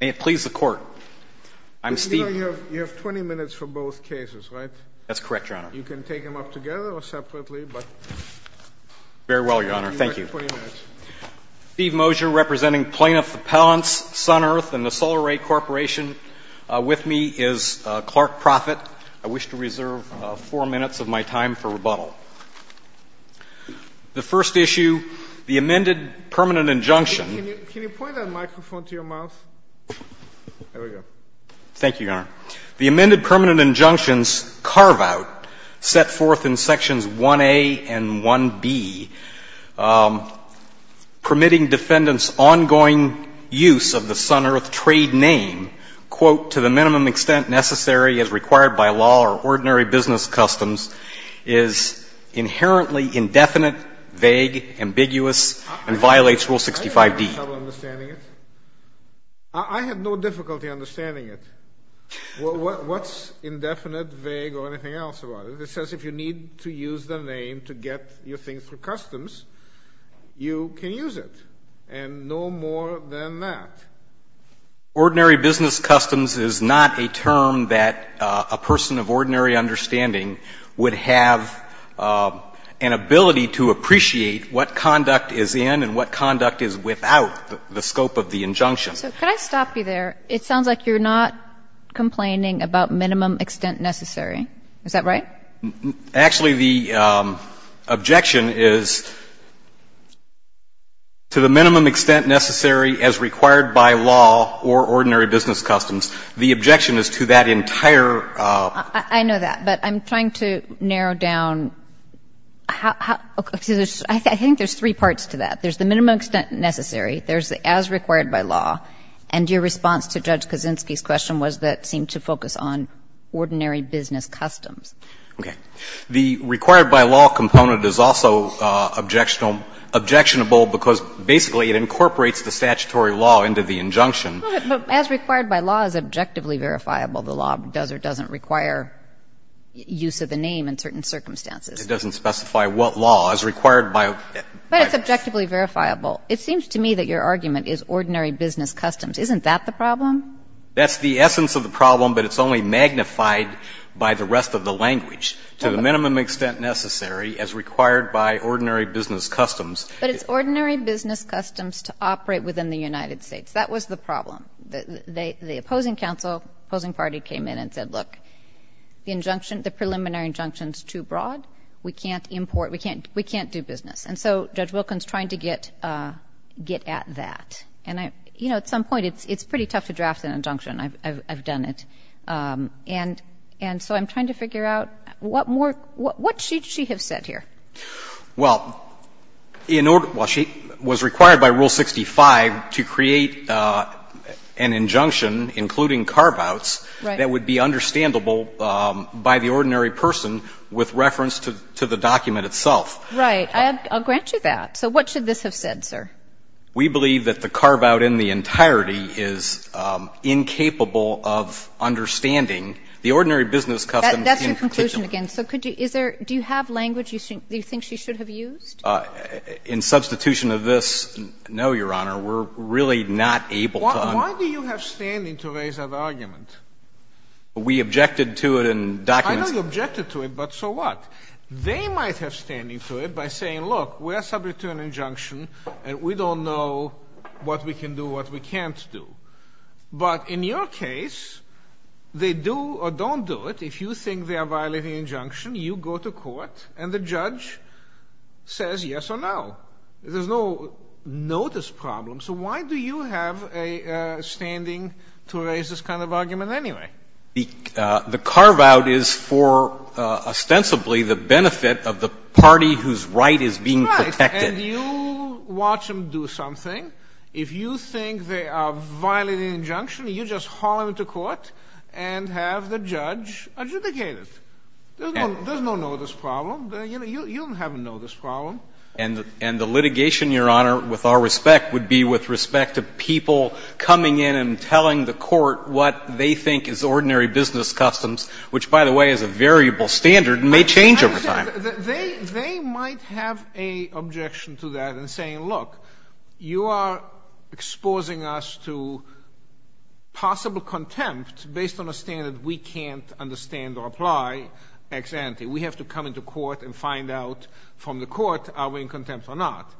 May it please the Court. I'm Steve... You have 20 minutes for both cases, right? That's correct, Your Honor. You can take them up together or separately, but... Very well, Your Honor. Thank you. Steve Mosier, representing Plaintiff Appellants Sun Earth and the Solar Ray Corporation. With me is Clark Proffitt. I wish to reserve four minutes of my time for rebuttal. The first issue, the amended permanent injunction... Can you point that microphone to your mouth? There we go. Thank you, Your Honor. The amended permanent injunctions carve out, set forth in Sections 1A and 1B, permitting defendants' ongoing use of the Sun Earth trade name, quote, to the minimum extent necessary as required by law or ordinary business customs, is inherently indefinite, vague, ambiguous, and violates Rule 65D. I have no trouble understanding it. I have no difficulty understanding it. What's indefinite, vague, or anything else about it? It says if you need to use the name to get your thing through customs, you can use it, and no more than that. Ordinary business customs is not a term that a person of ordinary understanding would have an ability to appreciate what conduct is in and what conduct is without the scope of the injunction. So could I stop you there? It sounds like you're not complaining about minimum extent necessary. Is that right? Actually, the objection is to the minimum extent necessary as required by law or ordinary business customs. The objection is to that entire... I know that, but I'm trying to narrow down. I think there's three parts to that. There's the minimum extent necessary, there's the as required by law, and your response to Judge Kaczynski's question was that it seemed to focus on ordinary business customs. Okay. The required by law component is also objectionable because basically it incorporates the statutory law into the injunction. But as required by law is objectively verifiable. The law does or doesn't require use of the name in certain circumstances. It doesn't specify what law. As required by... But it's objectively verifiable. It seems to me that your argument is ordinary business customs. Isn't that the problem? That's the essence of the problem, but it's only magnified by the rest of the language. To the minimum extent necessary as required by ordinary business customs... But it's ordinary business customs to operate within the United States. That was the problem. The opposing counsel, opposing party came in and said, look, the injunction is too broad. We can't import, we can't do business. And so Judge Wilkins trying to get at that. And I, you know, at some point it's pretty tough to draft an injunction. I've done it. And so I'm trying to figure out what more, what should she have said here? Well, in order, well, she was required by Rule 65 to create an injunction, including carve-outs that would be understandable by the ordinary person with reference to the document itself. Right. I'll grant you that. So what should this have said, sir? We believe that the carve-out in the entirety is incapable of understanding the ordinary business customs in particular. That's your conclusion again. So could you, is there, do you have language you think she should have used? In substitution of this, no, Your Honor. We're really not able to... Why do you have standing to raise that argument? We objected to it in documents. I know you objected to it, but so what? They might have standing to it by saying, look, we're subject to an injunction and we don't know what we can do, what we can't do. But in your case, they do or don't do it. If you think they are violating an injunction, you go to court and the judge says yes or no. There's no notice problem. So why do you have a standing to raise this kind of argument anyway? The carve-out is for, ostensibly, the benefit of the party whose right is being protected. Right. And you watch them do something. If you think they are violating an injunction, you just haul them to court and have the judge adjudicate it. There's no notice problem. You don't have a notice problem. And the litigation, Your Honor, with our respect, would be with respect to people coming in and telling the court what they think is ordinary business customs, which, by the way, is a variable standard and may change over time. They might have an objection to that in saying, look, you are exposing us to possible contempt based on a standard we can't understand or apply. We have to come into court and find out from the court are we in contempt or not.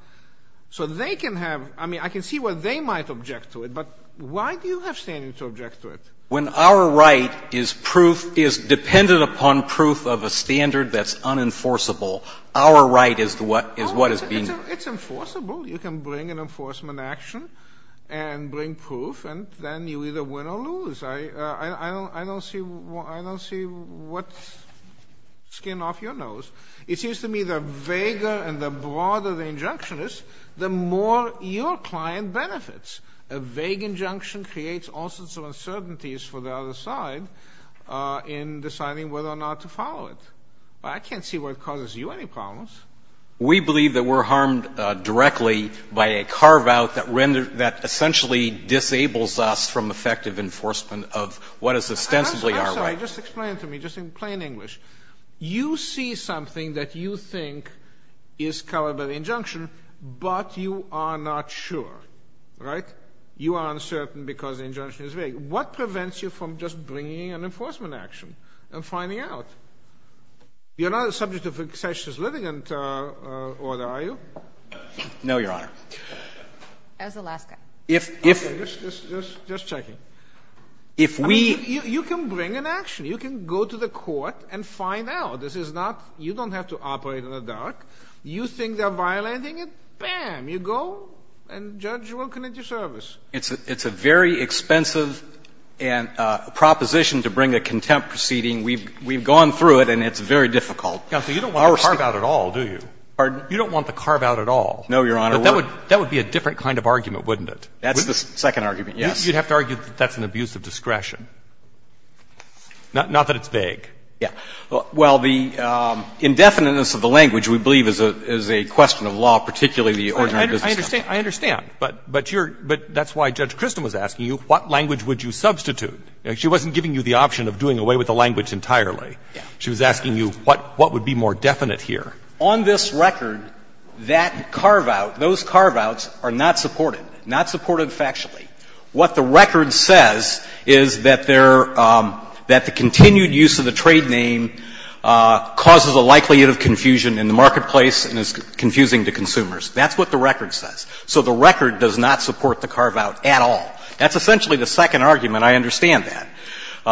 So they can have, I mean, I can see why they might object to it, but why do you have standing to object to it? When our right is proof, is dependent upon proof of a standard that's unenforceable, our right is what is being No, it's enforceable. You can bring an enforcement action and bring proof, and then you either win or lose. I don't see what's skin off your nose. It seems to me that if you bring me the vaguer and the broader the injunction is, the more your client benefits. A vague injunction creates all sorts of uncertainties for the other side in deciding whether or not to follow it. But I can't see what causes you any problems. We believe that we're harmed directly by a carve-out that essentially disables us from effective enforcement of what is ostensibly our right. I'm sorry, just explain it to me, just in plain English. You see something that you think is covered by the injunction, but you are not sure, right? You are uncertain because the injunction is vague. What prevents you from just bringing an enforcement action and finding out? You're not a subject of a sensuous litigant order, are you? No, Your Honor. As Alaska. Just checking. If we You can bring an action. You can go to the court and find out. This is not, you don't have to operate in the dark. You think they're violating it, bam, you go and judge will commit your service. It's a very expensive proposition to bring a contempt proceeding. We've gone through it and it's very difficult. Counsel, you don't want the carve-out at all, do you? Pardon? You don't want the carve-out at all. No, Your Honor, we're That would be a different kind of argument, wouldn't it? That's the second argument, yes. I think you'd have to argue that that's an abuse of discretion. Not that it's vague. Yeah. Well, the indefiniteness of the language, we believe, is a question of law, particularly the ordinary business section. I understand. But that's why Judge Christen was asking you, what language would you substitute? She wasn't giving you the option of doing away with the language entirely. She was asking you what would be more definite here. On this record, that carve-out, those carve-outs are not supported, not supported factually. What the record says is that they're — that the continued use of the trade name causes a likelihood of confusion in the marketplace and is confusing to consumers. That's what the record says. So the record does not support the carve-out at all. That's essentially the second argument. I understand that.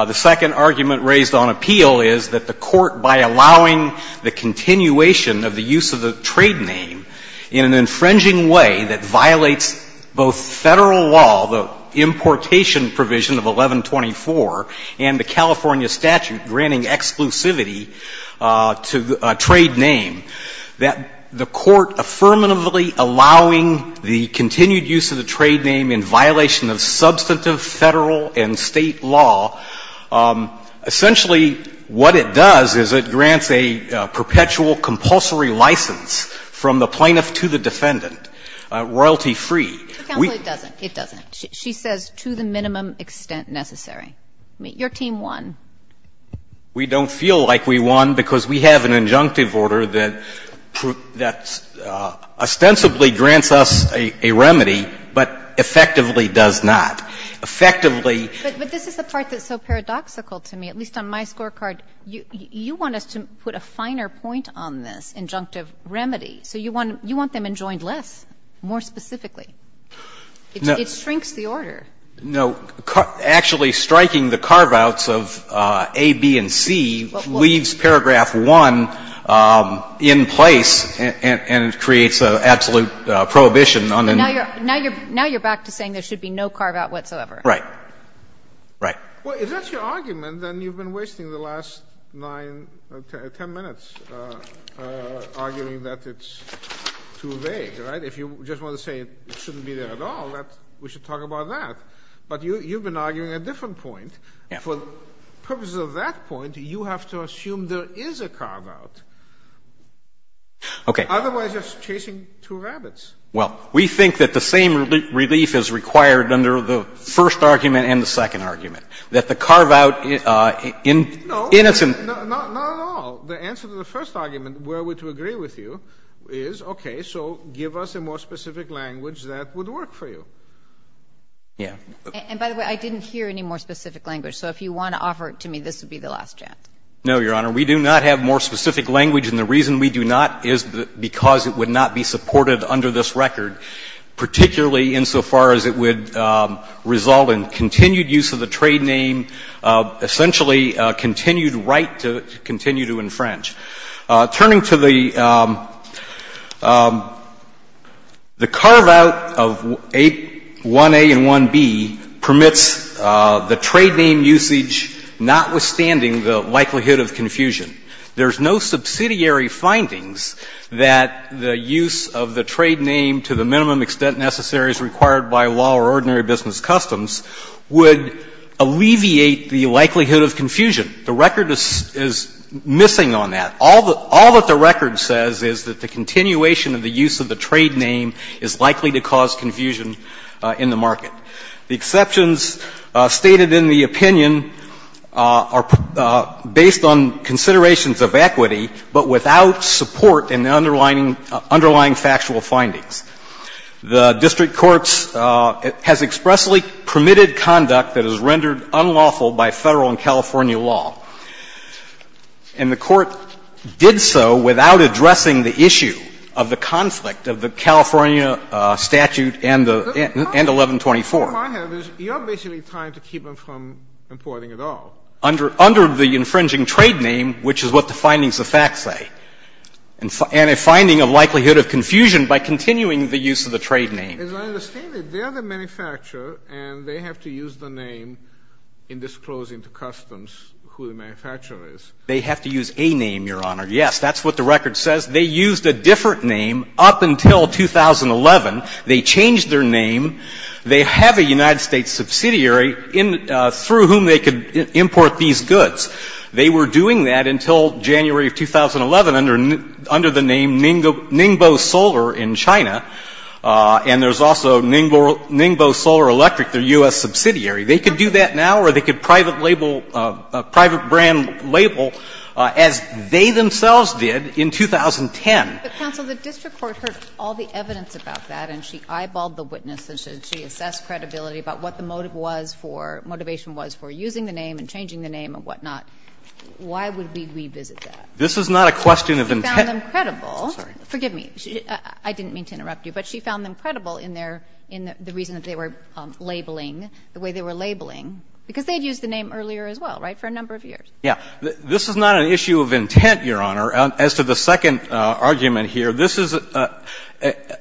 The second argument raised on appeal is that the Court, by allowing the continuation of the use of the trade name in an infringing way that violates both Federal law, the importation provision of 1124, and the California statute granting exclusivity to a trade name, that the Court affirmatively allowing the continued use of the trade name in violation of substantive Federal and State law, essentially what it does is it grants a perpetual compulsory license from the plaintiff to the defendant, royalty-free. It doesn't. It doesn't. She says to the minimum extent necessary. I mean, your team won. We don't feel like we won because we have an injunctive order that ostensibly grants us a remedy, but effectively does not. Effectively — But this is the part that's so paradoxical to me, at least on my scorecard. You want us to put a finer point on this injunctive remedy. So you want them enjoined less, more specifically. It shrinks the order. No. Actually striking the carve-outs of A, B, and C leaves paragraph 1 in place, and it creates an absolute prohibition on the name. Now you're back to saying there should be no carve-out whatsoever. Right. Right. Well, if that's your argument, then you've been wasting the last 9, 10 minutes arguing that it's too vague, right? If you just want to say it shouldn't be there at all, we should talk about that. But you've been arguing a different point. Yeah. For purposes of that point, you have to assume there is a carve-out. Okay. Otherwise, you're chasing two rabbits. Well, we think that the same relief is required under the first argument and the second argument, that the carve-out in its own No, not at all. The answer to the first argument, where we're to agree with you, is, okay, so give us a more specific language that would work for you. Yeah. And by the way, I didn't hear any more specific language. So if you want to offer it to me, this would be the last chance. No, Your Honor. We do not have more specific language. And the reason we do not is because it would not be supported under this record, particularly insofar as it would result in continued use of the trade name, essentially a continued right to continue to infringe. Turning to the carve-out of 1A and 1B permits the trade name usage, notwithstanding the likelihood of confusion. There's no subsidiary findings that the use of the trade name to the minimum extent necessary as required by law or ordinary business customs would alleviate the likelihood of confusion. The record is missing on that. All that the record says is that the continuation of the use of the trade name is likely to cause confusion in the market. The exceptions stated in the opinion are based on considerations of equity, but without support in the underlying factual findings. The district courts has expressly permitted conduct that is rendered unlawful by Federal and California law. And the Court did so without addressing the issue of the conflict of the California statute and the 1124. The point I have is you're basically trying to keep them from importing at all. Under the infringing trade name, which is what the findings of fact say, and finding a likelihood of confusion by continuing the use of the trade name. As I understand it, they're the manufacturer and they have to use the name in disclosing to customs who the manufacturer is. They have to use a name, Your Honor. Yes, that's what the record says. They used a different name up until 2011. They changed their name. They have a United States subsidiary through whom they could import these goods. They were doing that until January of 2011 under the name Ningbo Solar in China. And there's also Ningbo Solar Electric, their U.S. subsidiary. They could do that now or they could private label, private brand label as they themselves did in 2010. But, counsel, the district court heard all the evidence about that and she eyeballed the witness and she assessed credibility about what the motive was for, motivation was for using the name and changing the name and whatnot. Why would we revisit that? This is not a question of intent. She found them credible. Sorry. Forgive me. I didn't mean to interrupt you, but she found them credible in their – in the reason that they were labeling, the way they were labeling, because they had used the name earlier as well, right, for a number of years. Yeah. This is not an issue of intent, Your Honor. As to the second argument here, this is a –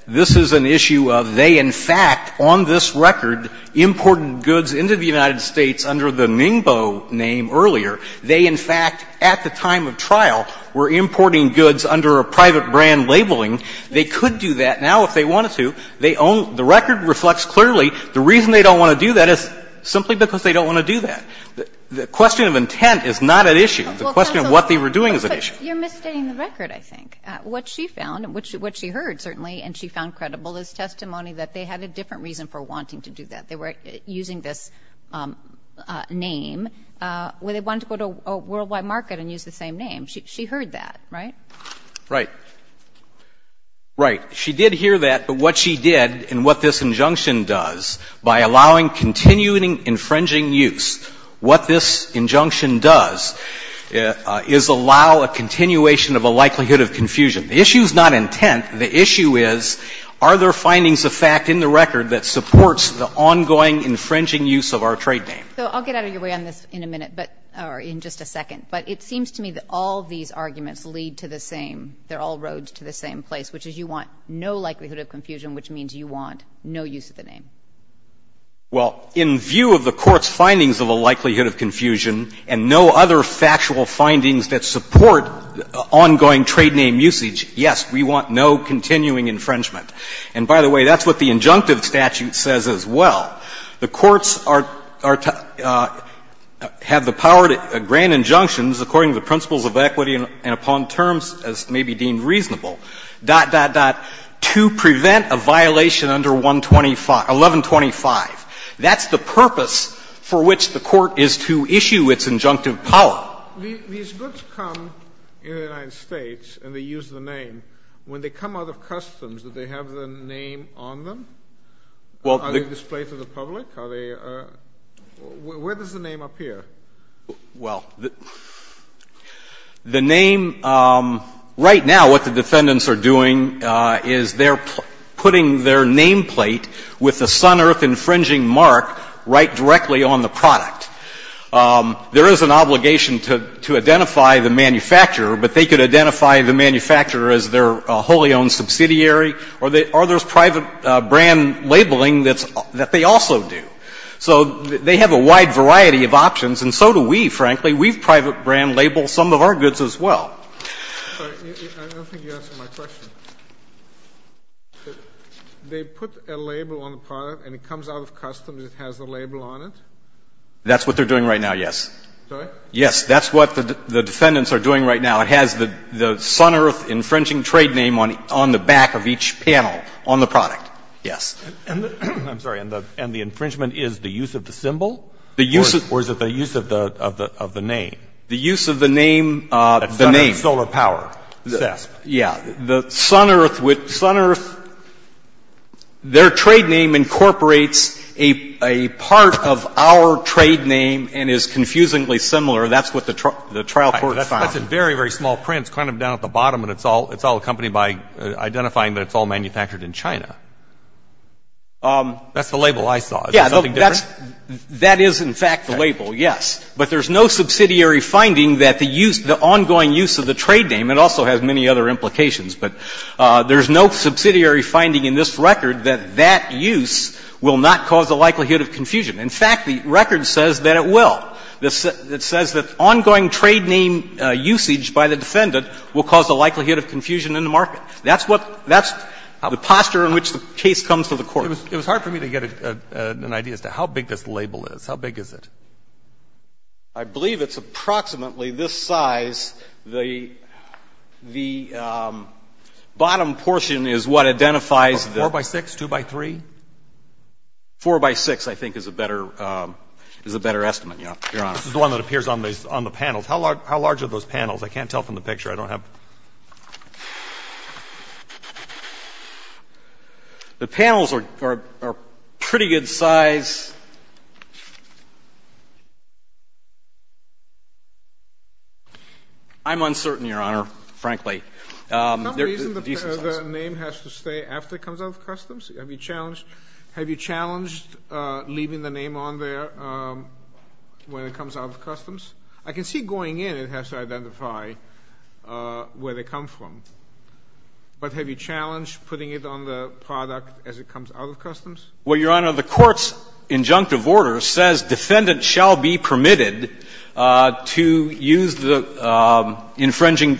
this is an issue of they, in fact, on this record, imported goods into the United States under the Ningbo name earlier. They, in fact, at the time of trial, were importing goods under a private brand labeling. They could do that now if they wanted to. They own – the record reflects clearly the reason they don't want to do that is simply because they don't want to do that. The question of intent is not an issue. The question of what they were doing is an issue. But you're misstating the record, I think. What she found, what she heard, certainly, and she found credible is testimony that they had a different reason for wanting to do that. They were using this name when they wanted to go to a worldwide market and use the same name. She heard that, right? Right. Right. She did hear that, but what she did and what this injunction does, by allowing continuing infringing use, what this injunction does is allow a continuation of a likelihood of confusion. The issue is not intent. The issue is are there findings of fact in the record that supports the ongoing infringing use of our trade name? So I'll get out of your way on this in a minute, but – or in just a second. But it seems to me that all of these arguments lead to the same – they're all roads to the same place, which is you want no likelihood of confusion, which means you want no use of the name. Well, in view of the Court's findings of a likelihood of confusion and no other factual findings that support ongoing trade name usage, yes, we want no continuing infringement. And by the way, that's what the injunctive statute says as well. The courts are – have the power to grant injunctions according to the principles of equity and upon terms as may be deemed reasonable, dot, dot, dot, to prevent a violation under 125 – 1125. That's the purpose for which the Court is to issue its injunctive power. These goods come in the United States and they use the name. When they come out of customs, do they have the name on them? Are they displayed to the public? Are they – where does the name appear? Well, the name – right now what the defendants are doing is they're putting their nameplate with the sun earth infringing mark right directly on the product. There is an obligation to identify the manufacturer, but they could identify the manufacturer as their wholly owned subsidiary. Are there private brand labeling that they also do? So they have a wide variety of options and so do we, frankly. We've private brand labeled some of our goods as well. I don't think you answered my question. They put a label on the product and it comes out of customs, it has the label on it? That's what they're doing right now, yes. Sorry? Yes, that's what the defendants are doing right now. It has the sun earth infringing trade name on the back of each panel on the product, yes. I'm sorry, and the infringement is the use of the symbol or is it the use of the name? The use of the name. The name. Solar power. Yeah. The sun earth – their trade name incorporates a part of our trade name and is confusingly similar. That's what the trial court found. That's a very, very small print. It's kind of down at the bottom and it's all accompanied by identifying that it's all manufactured in China. That's the label I saw. Is there something different? Yeah. That is, in fact, the label, yes. But there's no subsidiary finding that the use – the ongoing use of the trade name – it also has many other implications, but there's no subsidiary finding in this record that that use will not cause the likelihood of confusion. In fact, the record says that it will. It says that ongoing trade name usage by the defendant will cause the likelihood of confusion in the market. That's what – that's the posture in which the case comes to the court. It was hard for me to get an idea as to how big this label is. How big is it? I believe it's approximately this size. The bottom portion is what identifies the – Four by six? Two by three? Four by six, I think, is a better estimate, Your Honor. This is the one that appears on the panels. How large are those panels? I can't tell from the picture. I don't have – The panels are pretty good size. I'm uncertain, Your Honor, frankly. There's a decent size. Is there some reason the name has to stay after it comes out of customs? Have you challenged leaving the name on there when it comes out of customs? I can see going in it has to identify where they come from. But have you challenged putting it on the product as it comes out of customs? Well, Your Honor, the court's injunctive order says defendant shall be permitted to use the – infringing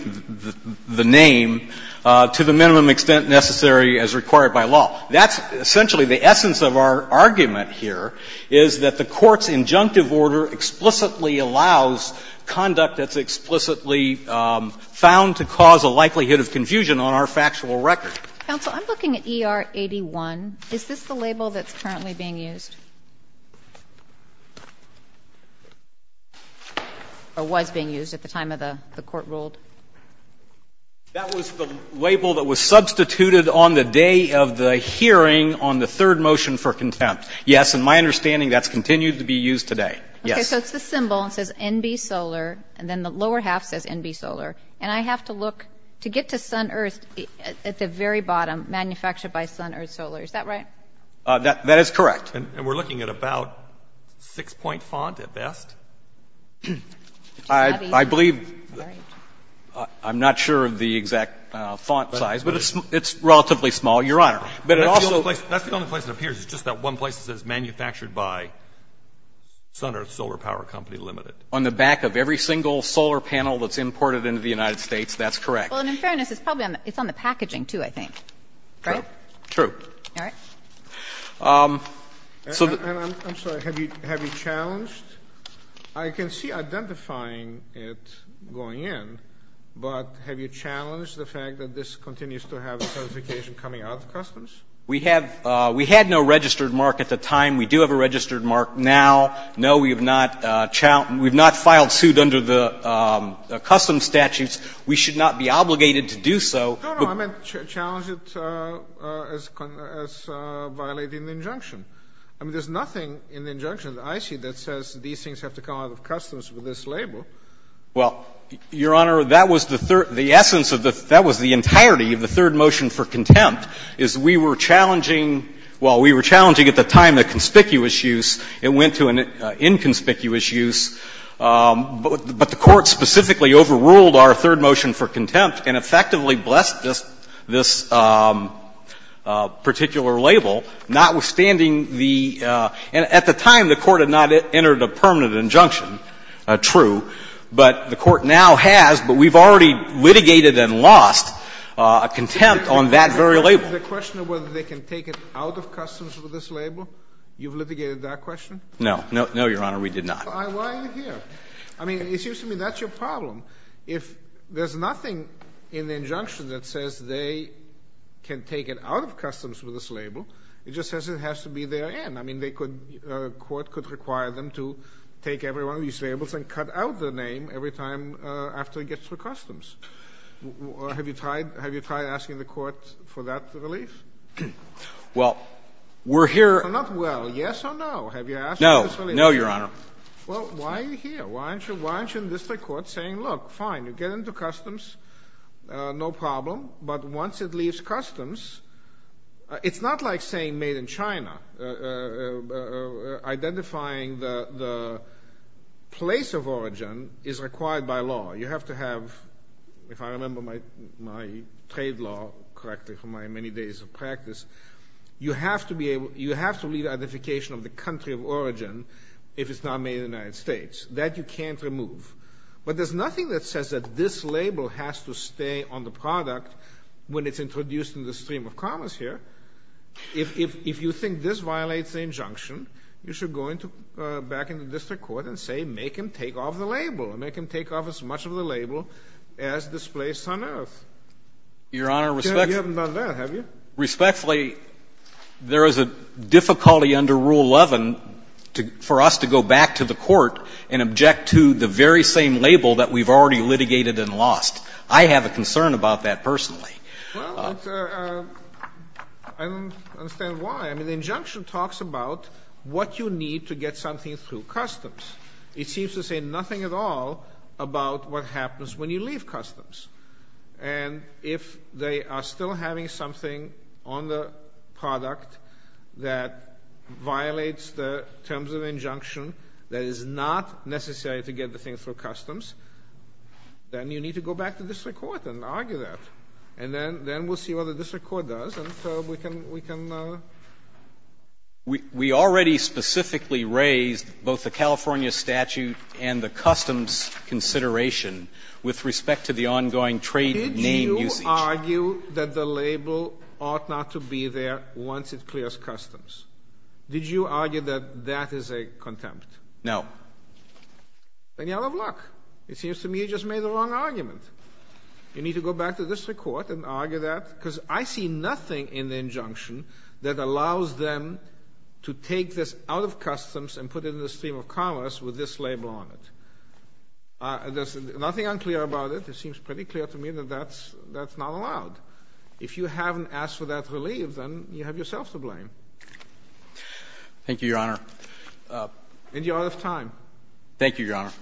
the name to the minimum extent necessary as required by law. That's essentially the essence of our argument here, is that the court's injunctive order explicitly allows conduct that's explicitly found to cause a likelihood of confusion on our factual record. Counsel, I'm looking at ER 81. Is this the label that's currently being used or was being used at the time of the court ruled? That was the label that was substituted on the day of the hearing on the third motion for contempt. Yes. In my understanding, that's continued to be used today. Yes. Okay. So it's the symbol. It says NB Solar. And then the lower half says NB Solar. And I have to look – to get to SunEarth at the very bottom, manufactured by SunEarth Solar. Is that right? That is correct. And we're looking at about six-point font at best? I believe – I'm not sure of the exact font size. But it's relatively small, Your Honor. But it also – That's the only place it appears. It's just that one place that says manufactured by SunEarth Solar Power Company Limited. On the back of every single solar panel that's imported into the United States, that's correct. Well, and in fairness, it's probably on the – it's on the packaging, too, I think. Right? True. All right. So the – And I'm sorry. Have you challenged – I can see identifying it going in, but have you challenged the fact that this continues to have a certification coming out of customs? We have – we had no registered mark at the time. We do have a registered mark now. No, we have not – we have not filed suit under the customs statutes. We should not be obligated to do so. No, no. I meant challenge it as violating the injunction. I mean, there's nothing in the injunction that I see that says these things have to come out of customs with this label. Well, Your Honor, that was the third – the essence of the – that was the entirety of the third motion for contempt is we were challenging – well, we were challenging at the time a conspicuous use. It went to an inconspicuous use, but the Court specifically overruled our third motion for contempt and effectively blessed this particular label, notwithstanding the – and at the time, the Court had not entered a permanent injunction. True. But the Court now has, but we've already litigated and lost contempt on that very label. The question of whether they can take it out of customs with this label, you've litigated that question? No. No, Your Honor, we did not. Why are you here? I mean, it seems to me that's your problem. If there's nothing in the injunction that says they can take it out of customs with this label, it just says it has to be therein. I mean, they could – a court could require them to take every one of these labels and cut out the name every time after it gets through customs. Have you tried – have you tried asking the Court for that relief? Well, we're here – Not well. Yes or no? Have you asked for this relief? No. No, Your Honor. Well, why are you here? Why aren't you in the district court saying, look, fine, you get into customs, no problem, but once it leaves customs – it's not like saying made in China, identifying the place of origin is required by law. You have to have – if I remember my trade law correctly from my many days of practice, you have to be able – you have to leave identification of the country of origin if it's not made in the United States. That you can't remove. But there's nothing that says that this label has to stay on the product when it's introduced in the stream of commerce here. If you think this violates the injunction, you should go back into the district court and say make him take off the label and make him take off as much of the label as displaced on earth. Your Honor, respectfully – You haven't done that, have you? Respectfully, there is a difficulty under Rule 11 for us to go back to the court and object to the very same label that we've already litigated and lost. I have a concern about that personally. Well, I don't understand why. I mean, the injunction talks about what you need to get something through customs. It seems to say nothing at all about what happens when you leave customs. And if they are still having something on the product that violates the terms of injunction that is not necessary to get the thing through customs, then you need to go back to district court and argue that. And then we'll see what the district court does, and so we can – We already specifically raised both the California statute and the customs consideration with respect to the ongoing trade name usage. Did you argue that the label ought not to be there once it clears customs? Did you argue that that is a contempt? No. Then you're out of luck. It seems to me you just made the wrong argument. You need to go back to district court and argue that because I see nothing in the injunction that allows them to take this out of customs and put it in the stream of commerce with this label on it. There's nothing unclear about it. It seems pretty clear to me that that's not allowed. If you haven't asked for that relief, then you have yourself to blame. Thank you, Your Honor. And you're out of time. Thank you, Your Honor. Thank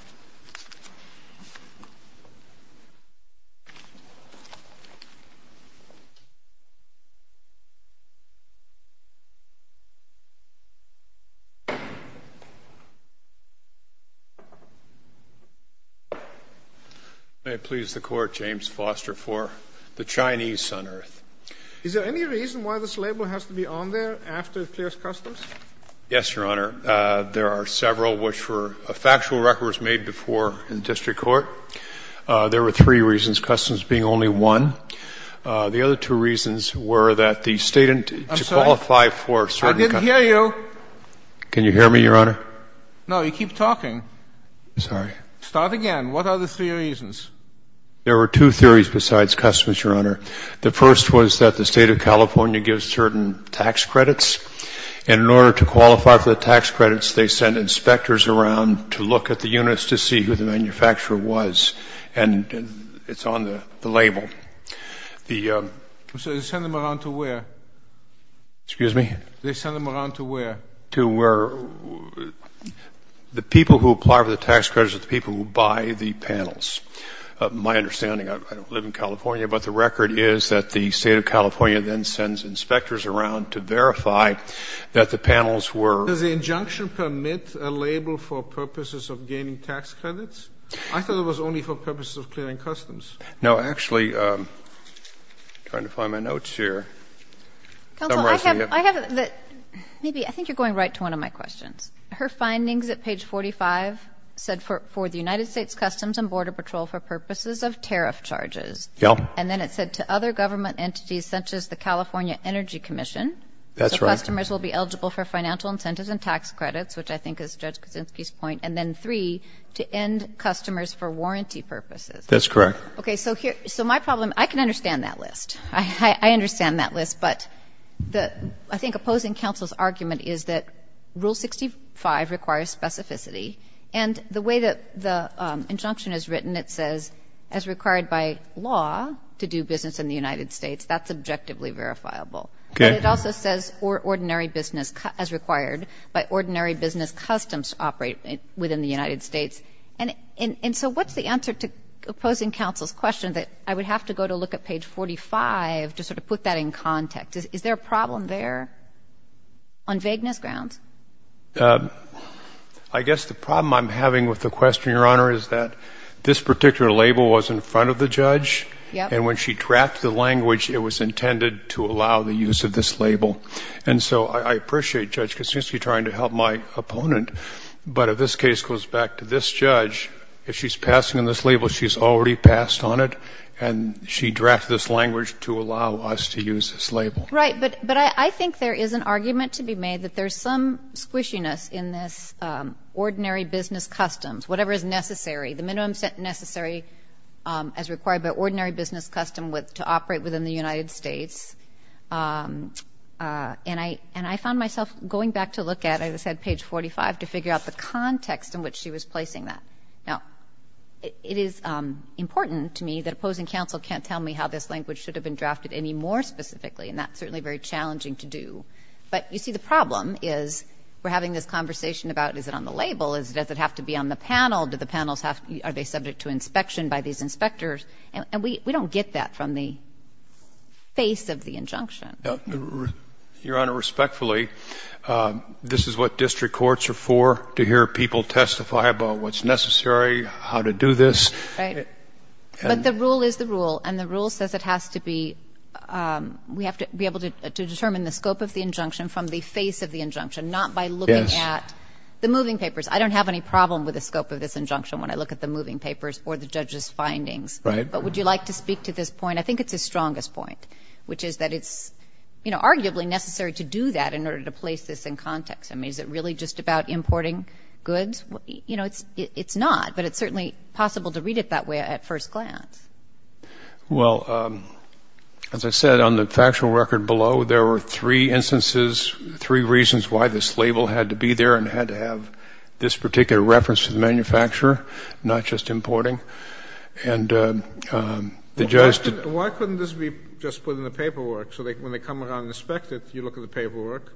you. May it please the Court, James Foster for the Chinese Sun-Earth. Is there any reason why this label has to be on there after it clears customs? Yes, Your Honor. There are several, which were factual records made before in district court. There were three reasons, customs being only one. The other two reasons were that the State didn't qualify for certain customs. I didn't hear you. Can you hear me, Your Honor? No. You keep talking. I'm sorry. Start again. What are the three reasons? There were two theories besides customs, Your Honor. The first was that the State of California gives certain tax credits, and in order to qualify for the tax credits, they send inspectors around to look at the units to see who the manufacturer was. And it's on the label. They send them around to where? Excuse me? They send them around to where? To where the people who apply for the tax credits are the people who buy the panels. My understanding, I don't live in California, but the record is that the State of California then sends inspectors around to verify that the panels were. Does the injunction permit a label for purposes of gaining tax credits? I thought it was only for purposes of clearing customs. No. Actually, I'm trying to find my notes here. Summarize them here. Counsel, I have the — maybe, I think you're going right to one of my questions. Her findings at page 45 said for the United States Customs and Border Patrol for purposes of tariff charges. Yeah. And then it said to other government entities such as the California Energy Commission. That's right. So customers will be eligible for financial incentives and tax credits, which I think is Judge Kuczynski's point. And then three, to end customers for warranty purposes. That's correct. Okay. So my problem — I can understand that list. I understand that list. But I think opposing counsel's argument is that Rule 65 requires specificity. And the way that the injunction is written, it says, as required by law to do business in the United States. That's objectively verifiable. Okay. But it also says ordinary business as required by ordinary business customs operate within the United States. And so what's the answer to opposing counsel's question that I would have to go to look at page 45 to sort of put that in context? Is there a problem there on vagueness grounds? I guess the problem I'm having with the question, Your Honor, is that this particular label was in front of the judge. Yep. And when she drafted the language, it was intended to allow the use of this label. And so I appreciate Judge Kuczynski trying to help my opponent. But if this case goes back to this judge, if she's passing on this label, she's already passed on it. And she drafted this language to allow us to use this label. Right. But I think there is an argument to be made that there's some squishiness in this ordinary business customs, whatever is necessary, the minimum necessary as required by ordinary business custom to operate within the United States. And I found myself going back to look at, as I said, page 45 to figure out the context in which she was placing that. Now, it is important to me that opposing counsel can't tell me how this language should have been drafted any more specifically. And that's certainly very challenging to do. But, you see, the problem is we're having this conversation about, is it on the label? Does it have to be on the panel? Do the panels have to be – are they subject to inspection by these inspectors? And we don't get that from the face of the injunction. Your Honor, respectfully, this is what district courts are for, to hear people testify about what's necessary, how to do this. Right. But the rule is the rule. And the rule says it has to be – we have to be able to determine the scope of the injunction from the face of the injunction, not by looking at the moving papers. I don't have any problem with the scope of this injunction when I look at the moving papers or the judge's findings. Right. But would you like to speak to this point? I think it's his strongest point, which is that it's, you know, arguably necessary to do that in order to place this in context. I mean, is it really just about importing goods? You know, it's not. But it's certainly possible to read it that way at first glance. Well, as I said, on the factual record below, there were three instances, three reasons why this label had to be there and had to have this particular reference to the manufacturer, not just importing. And the judge – Why couldn't this be just put in the paperwork so that when they come around and inspect it, you look at the paperwork,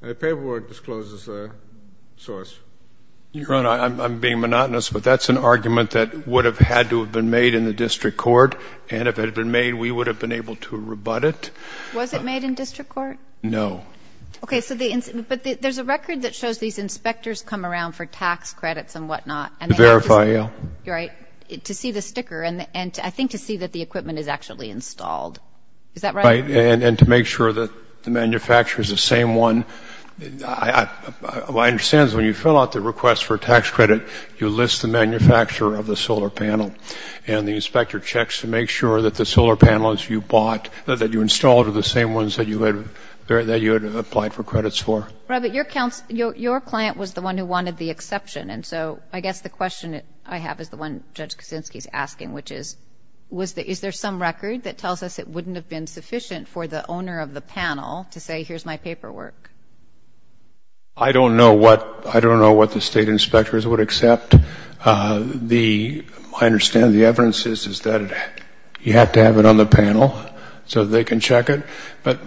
and the paperwork discloses the source? Your Honor, I'm being monotonous, but that's an argument that would have had to have been made in the district court, and if it had been made, we would have been able to rebut it. Was it made in district court? No. Okay, so the – but there's a record that shows these inspectors come around for tax credits and whatnot, and they have to see – To verify, yeah. Right. To see the sticker, and I think to see that the equipment is actually installed. Is that right? Right. And to make sure that the manufacturer is the same one. My understanding is when you fill out the request for a tax credit, you list the manufacturer of the solar panel, and the inspector checks to make sure that the solar panels you bought that you installed are the same ones that you had – that you had applied for credits for. Right, but your client was the one who wanted the exception, and so I guess the question that I have is the one Judge Kuczynski is asking, which is, is there some record that tells us it wouldn't have been sufficient for the owner of the panel to say, here's my paperwork? I don't know what – I don't know what the State inspectors would accept. The – I understand the evidence is that you have to have it on the panel so that they can check it. But,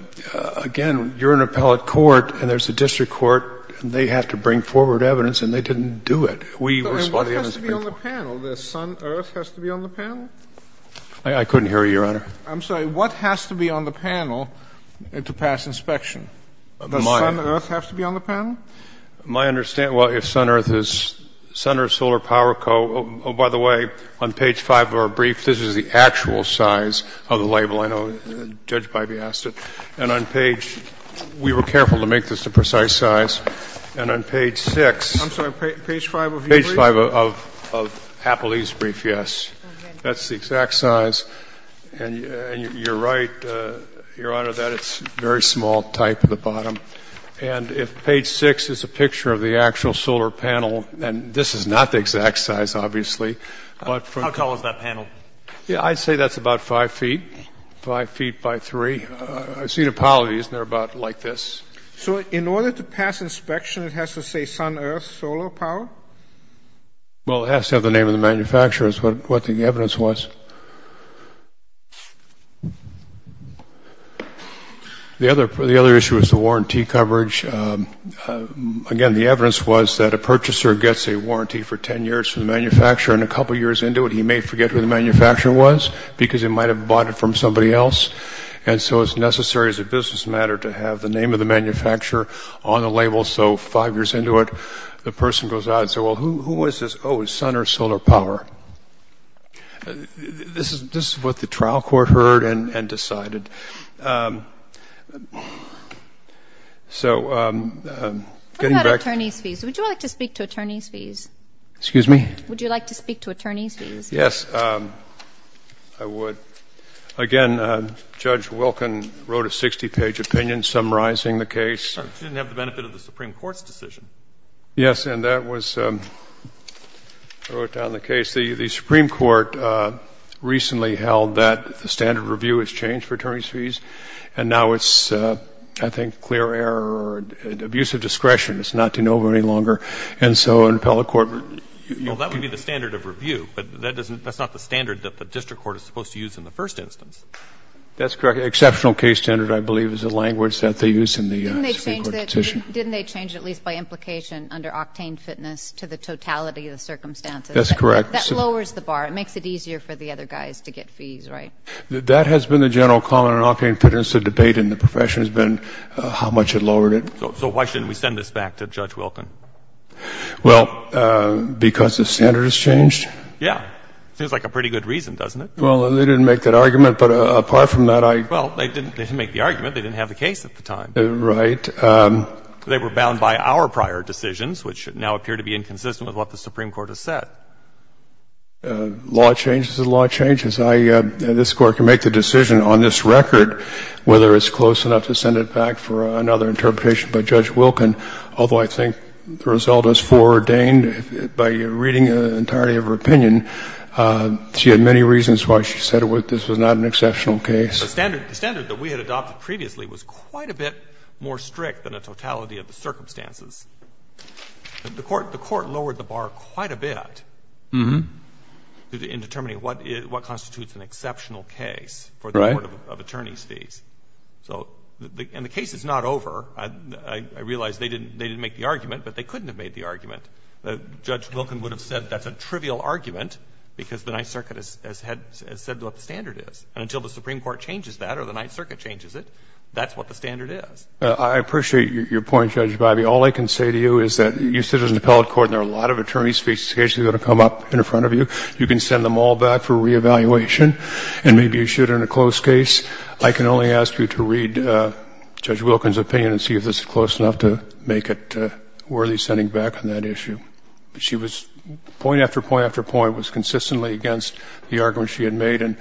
again, you're in appellate court, and there's a district court, and they have to bring forward evidence, and they didn't do it. We were spotting – What has to be on the panel? The sun, earth has to be on the panel? I couldn't hear you, Your Honor. I'm sorry. What has to be on the panel to pass inspection? Does sun, earth have to be on the panel? My understanding – well, if sun, earth is – Sun Earth Solar Power Co. – oh, by the way, on page 5 of our brief, this is the actual size of the label. I know Judge Pipey asked it. And on page – we were careful to make this a precise size. And on page 6 – I'm sorry. Page 5 of your brief? Page 5 of Appellee's brief, yes. That's the exact size. And you're right, Your Honor, that it's a very small type at the bottom. And if page 6 is a picture of the actual solar panel – and this is not the exact size, obviously, but from – How tall is that panel? Yeah, I'd say that's about 5 feet, 5 feet by 3. I've seen appellees, and they're about like this. So in order to pass inspection, it has to say sun, earth, solar power? Well, it has to have the name of the manufacturer, is what the evidence was. The other issue is the warranty coverage. Again, the evidence was that a purchaser gets a warranty for 10 years from the manufacturer, and a couple years into it, he may forget who the manufacturer was because he might have bought it from somebody else. And so it's necessary as a business matter to have the name of the manufacturer on the label. So five years into it, the person goes out and says, well, who is this? Oh, it's sun, earth, solar power. This is what the trial court heard and decided. So getting back – What about attorney's fees? Would you like to speak to attorney's fees? Excuse me? Would you like to speak to attorney's fees? Yes, I would. Again, Judge Wilkin wrote a 60-page opinion summarizing the case. It didn't have the benefit of the Supreme Court's decision. Yes, and that was – wrote down the case. The Supreme Court recently held that the standard of review has changed for attorney's fees. And now it's, I think, clear error or abuse of discretion. It's not de novo any longer. And so an appellate court would – Well, that would be the standard of review. But that's not the standard that the district court is supposed to use in the first instance. That's correct. Exceptional case standard, I believe, is the language that they use in the Supreme Court petition. Didn't they change it at least by implication under octane fitness to the totality of the circumstances? That's correct. That lowers the bar. It makes it easier for the other guys to get fees, right? That has been the general comment on octane fitness. The debate in the profession has been how much it lowered it. So why shouldn't we send this back to Judge Wilkin? Well, because the standard has changed. Yeah. Seems like a pretty good reason, doesn't it? Well, they didn't make that argument. But apart from that, I – Well, they didn't make the argument. They didn't have the case at the time. Right. They were bound by our prior decisions, which now appear to be inconsistent with what the Supreme Court has said. Law changes. The law changes. I – this Court can make the decision on this record whether it's close enough to send it back for another interpretation by Judge Wilkin, although I think the result is foreordained by reading the entirety of her opinion. She had many reasons why she said this was not an exceptional case. The standard that we had adopted previously was quite a bit more strict than the totality of the circumstances. The Court lowered the bar quite a bit in determining what constitutes an exceptional case for the Court of Attorney's fees. Right. So – and the case is not over. I realize they didn't make the argument, but they couldn't have made the argument. Judge Wilkin would have said that's a trivial argument because the Ninth Circuit has said what the standard is. And until the Supreme Court changes that or the Ninth Circuit changes it, that's what the standard is. I appreciate your point, Judge Bivey. All I can say to you is that you sit in the appellate court and there are a lot of attorney's fees that are going to come up in front of you. You can send them all back for re-evaluation, and maybe you should in a close case. I can only ask you to read Judge Wilkin's opinion and see if it's close enough to make it worthy sending back on that issue. She was – point after point after point was consistently against the argument she had made, and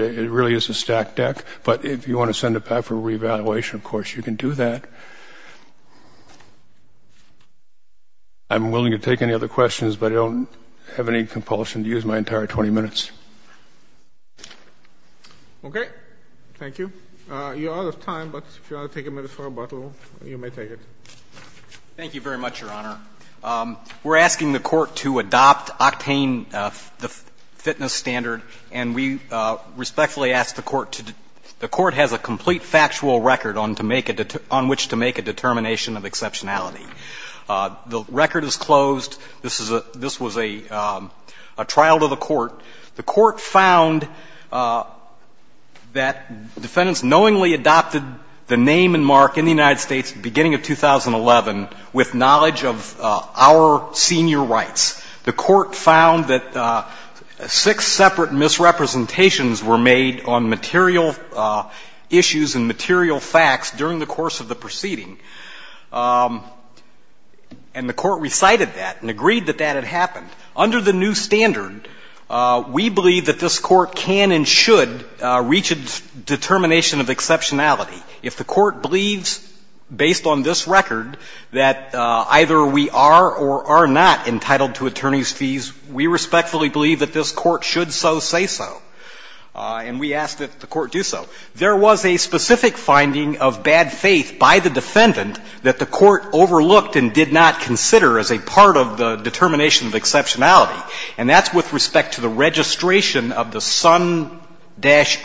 it really is a stacked deck. But if you want to send it back for re-evaluation, of course, you can do that. I'm willing to take any other questions, but I don't have any compulsion to use my entire 20 minutes. Okay. Thank you. You're out of time, but if you want to take a minute for rebuttal, you may take it. Thank you very much, Your Honor. We're asking the Court to adopt Octane, the fitness standard, and we respectfully ask the Court to – the Court has a complete factual record on to make a – on which to make a determination of exceptionality. The record is closed. This is a – this was a trial to the Court. The Court found that defendants knowingly adopted the name and mark in the United States beginning of 2011 with knowledge of our senior rights. The Court found that six separate misrepresentations were made on material issues and material facts during the course of the proceeding. And the Court recited that and agreed that that had happened. Under the new standard, we believe that this Court can and should reach a determination of exceptionality. If the Court believes, based on this record, that either we are or are not entitled to attorney's fees, we respectfully believe that this Court should so say so. And we ask that the Court do so. There was a specific finding of bad faith by the defendant that the Court overlooked and did not consider as a part of the determination of exceptionality, and that's with respect to the registration of the sun-earth.us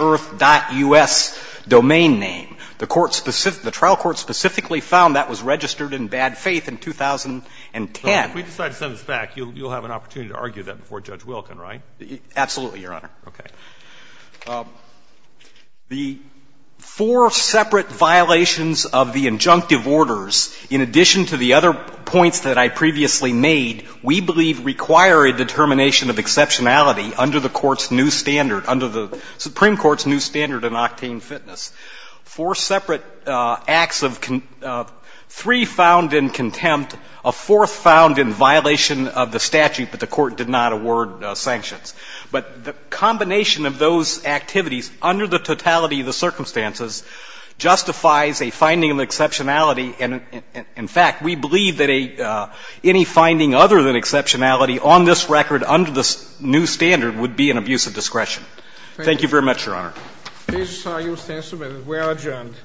domain name. The Court – the trial court specifically found that was registered in bad faith in 2010. So if we decide to send this back, you'll have an opportunity to argue that before Judge Wilkin, right? Absolutely, Your Honor. Okay. The four separate violations of the injunctive orders, in addition to the other points that I previously made, we believe require a determination of exceptionality under the Court's new standard – under the Supreme Court's new standard in octane fitness. Four separate acts of – three found in contempt, a fourth found in violation of the statute, but the Court did not award sanctions. But the combination of those activities under the totality of the circumstances justifies a finding of exceptionality. And in fact, we believe that any finding other than exceptionality on this record under the new standard would be an abuse of discretion. Thank you very much, Your Honor. This argument stands submitted. We are adjourned.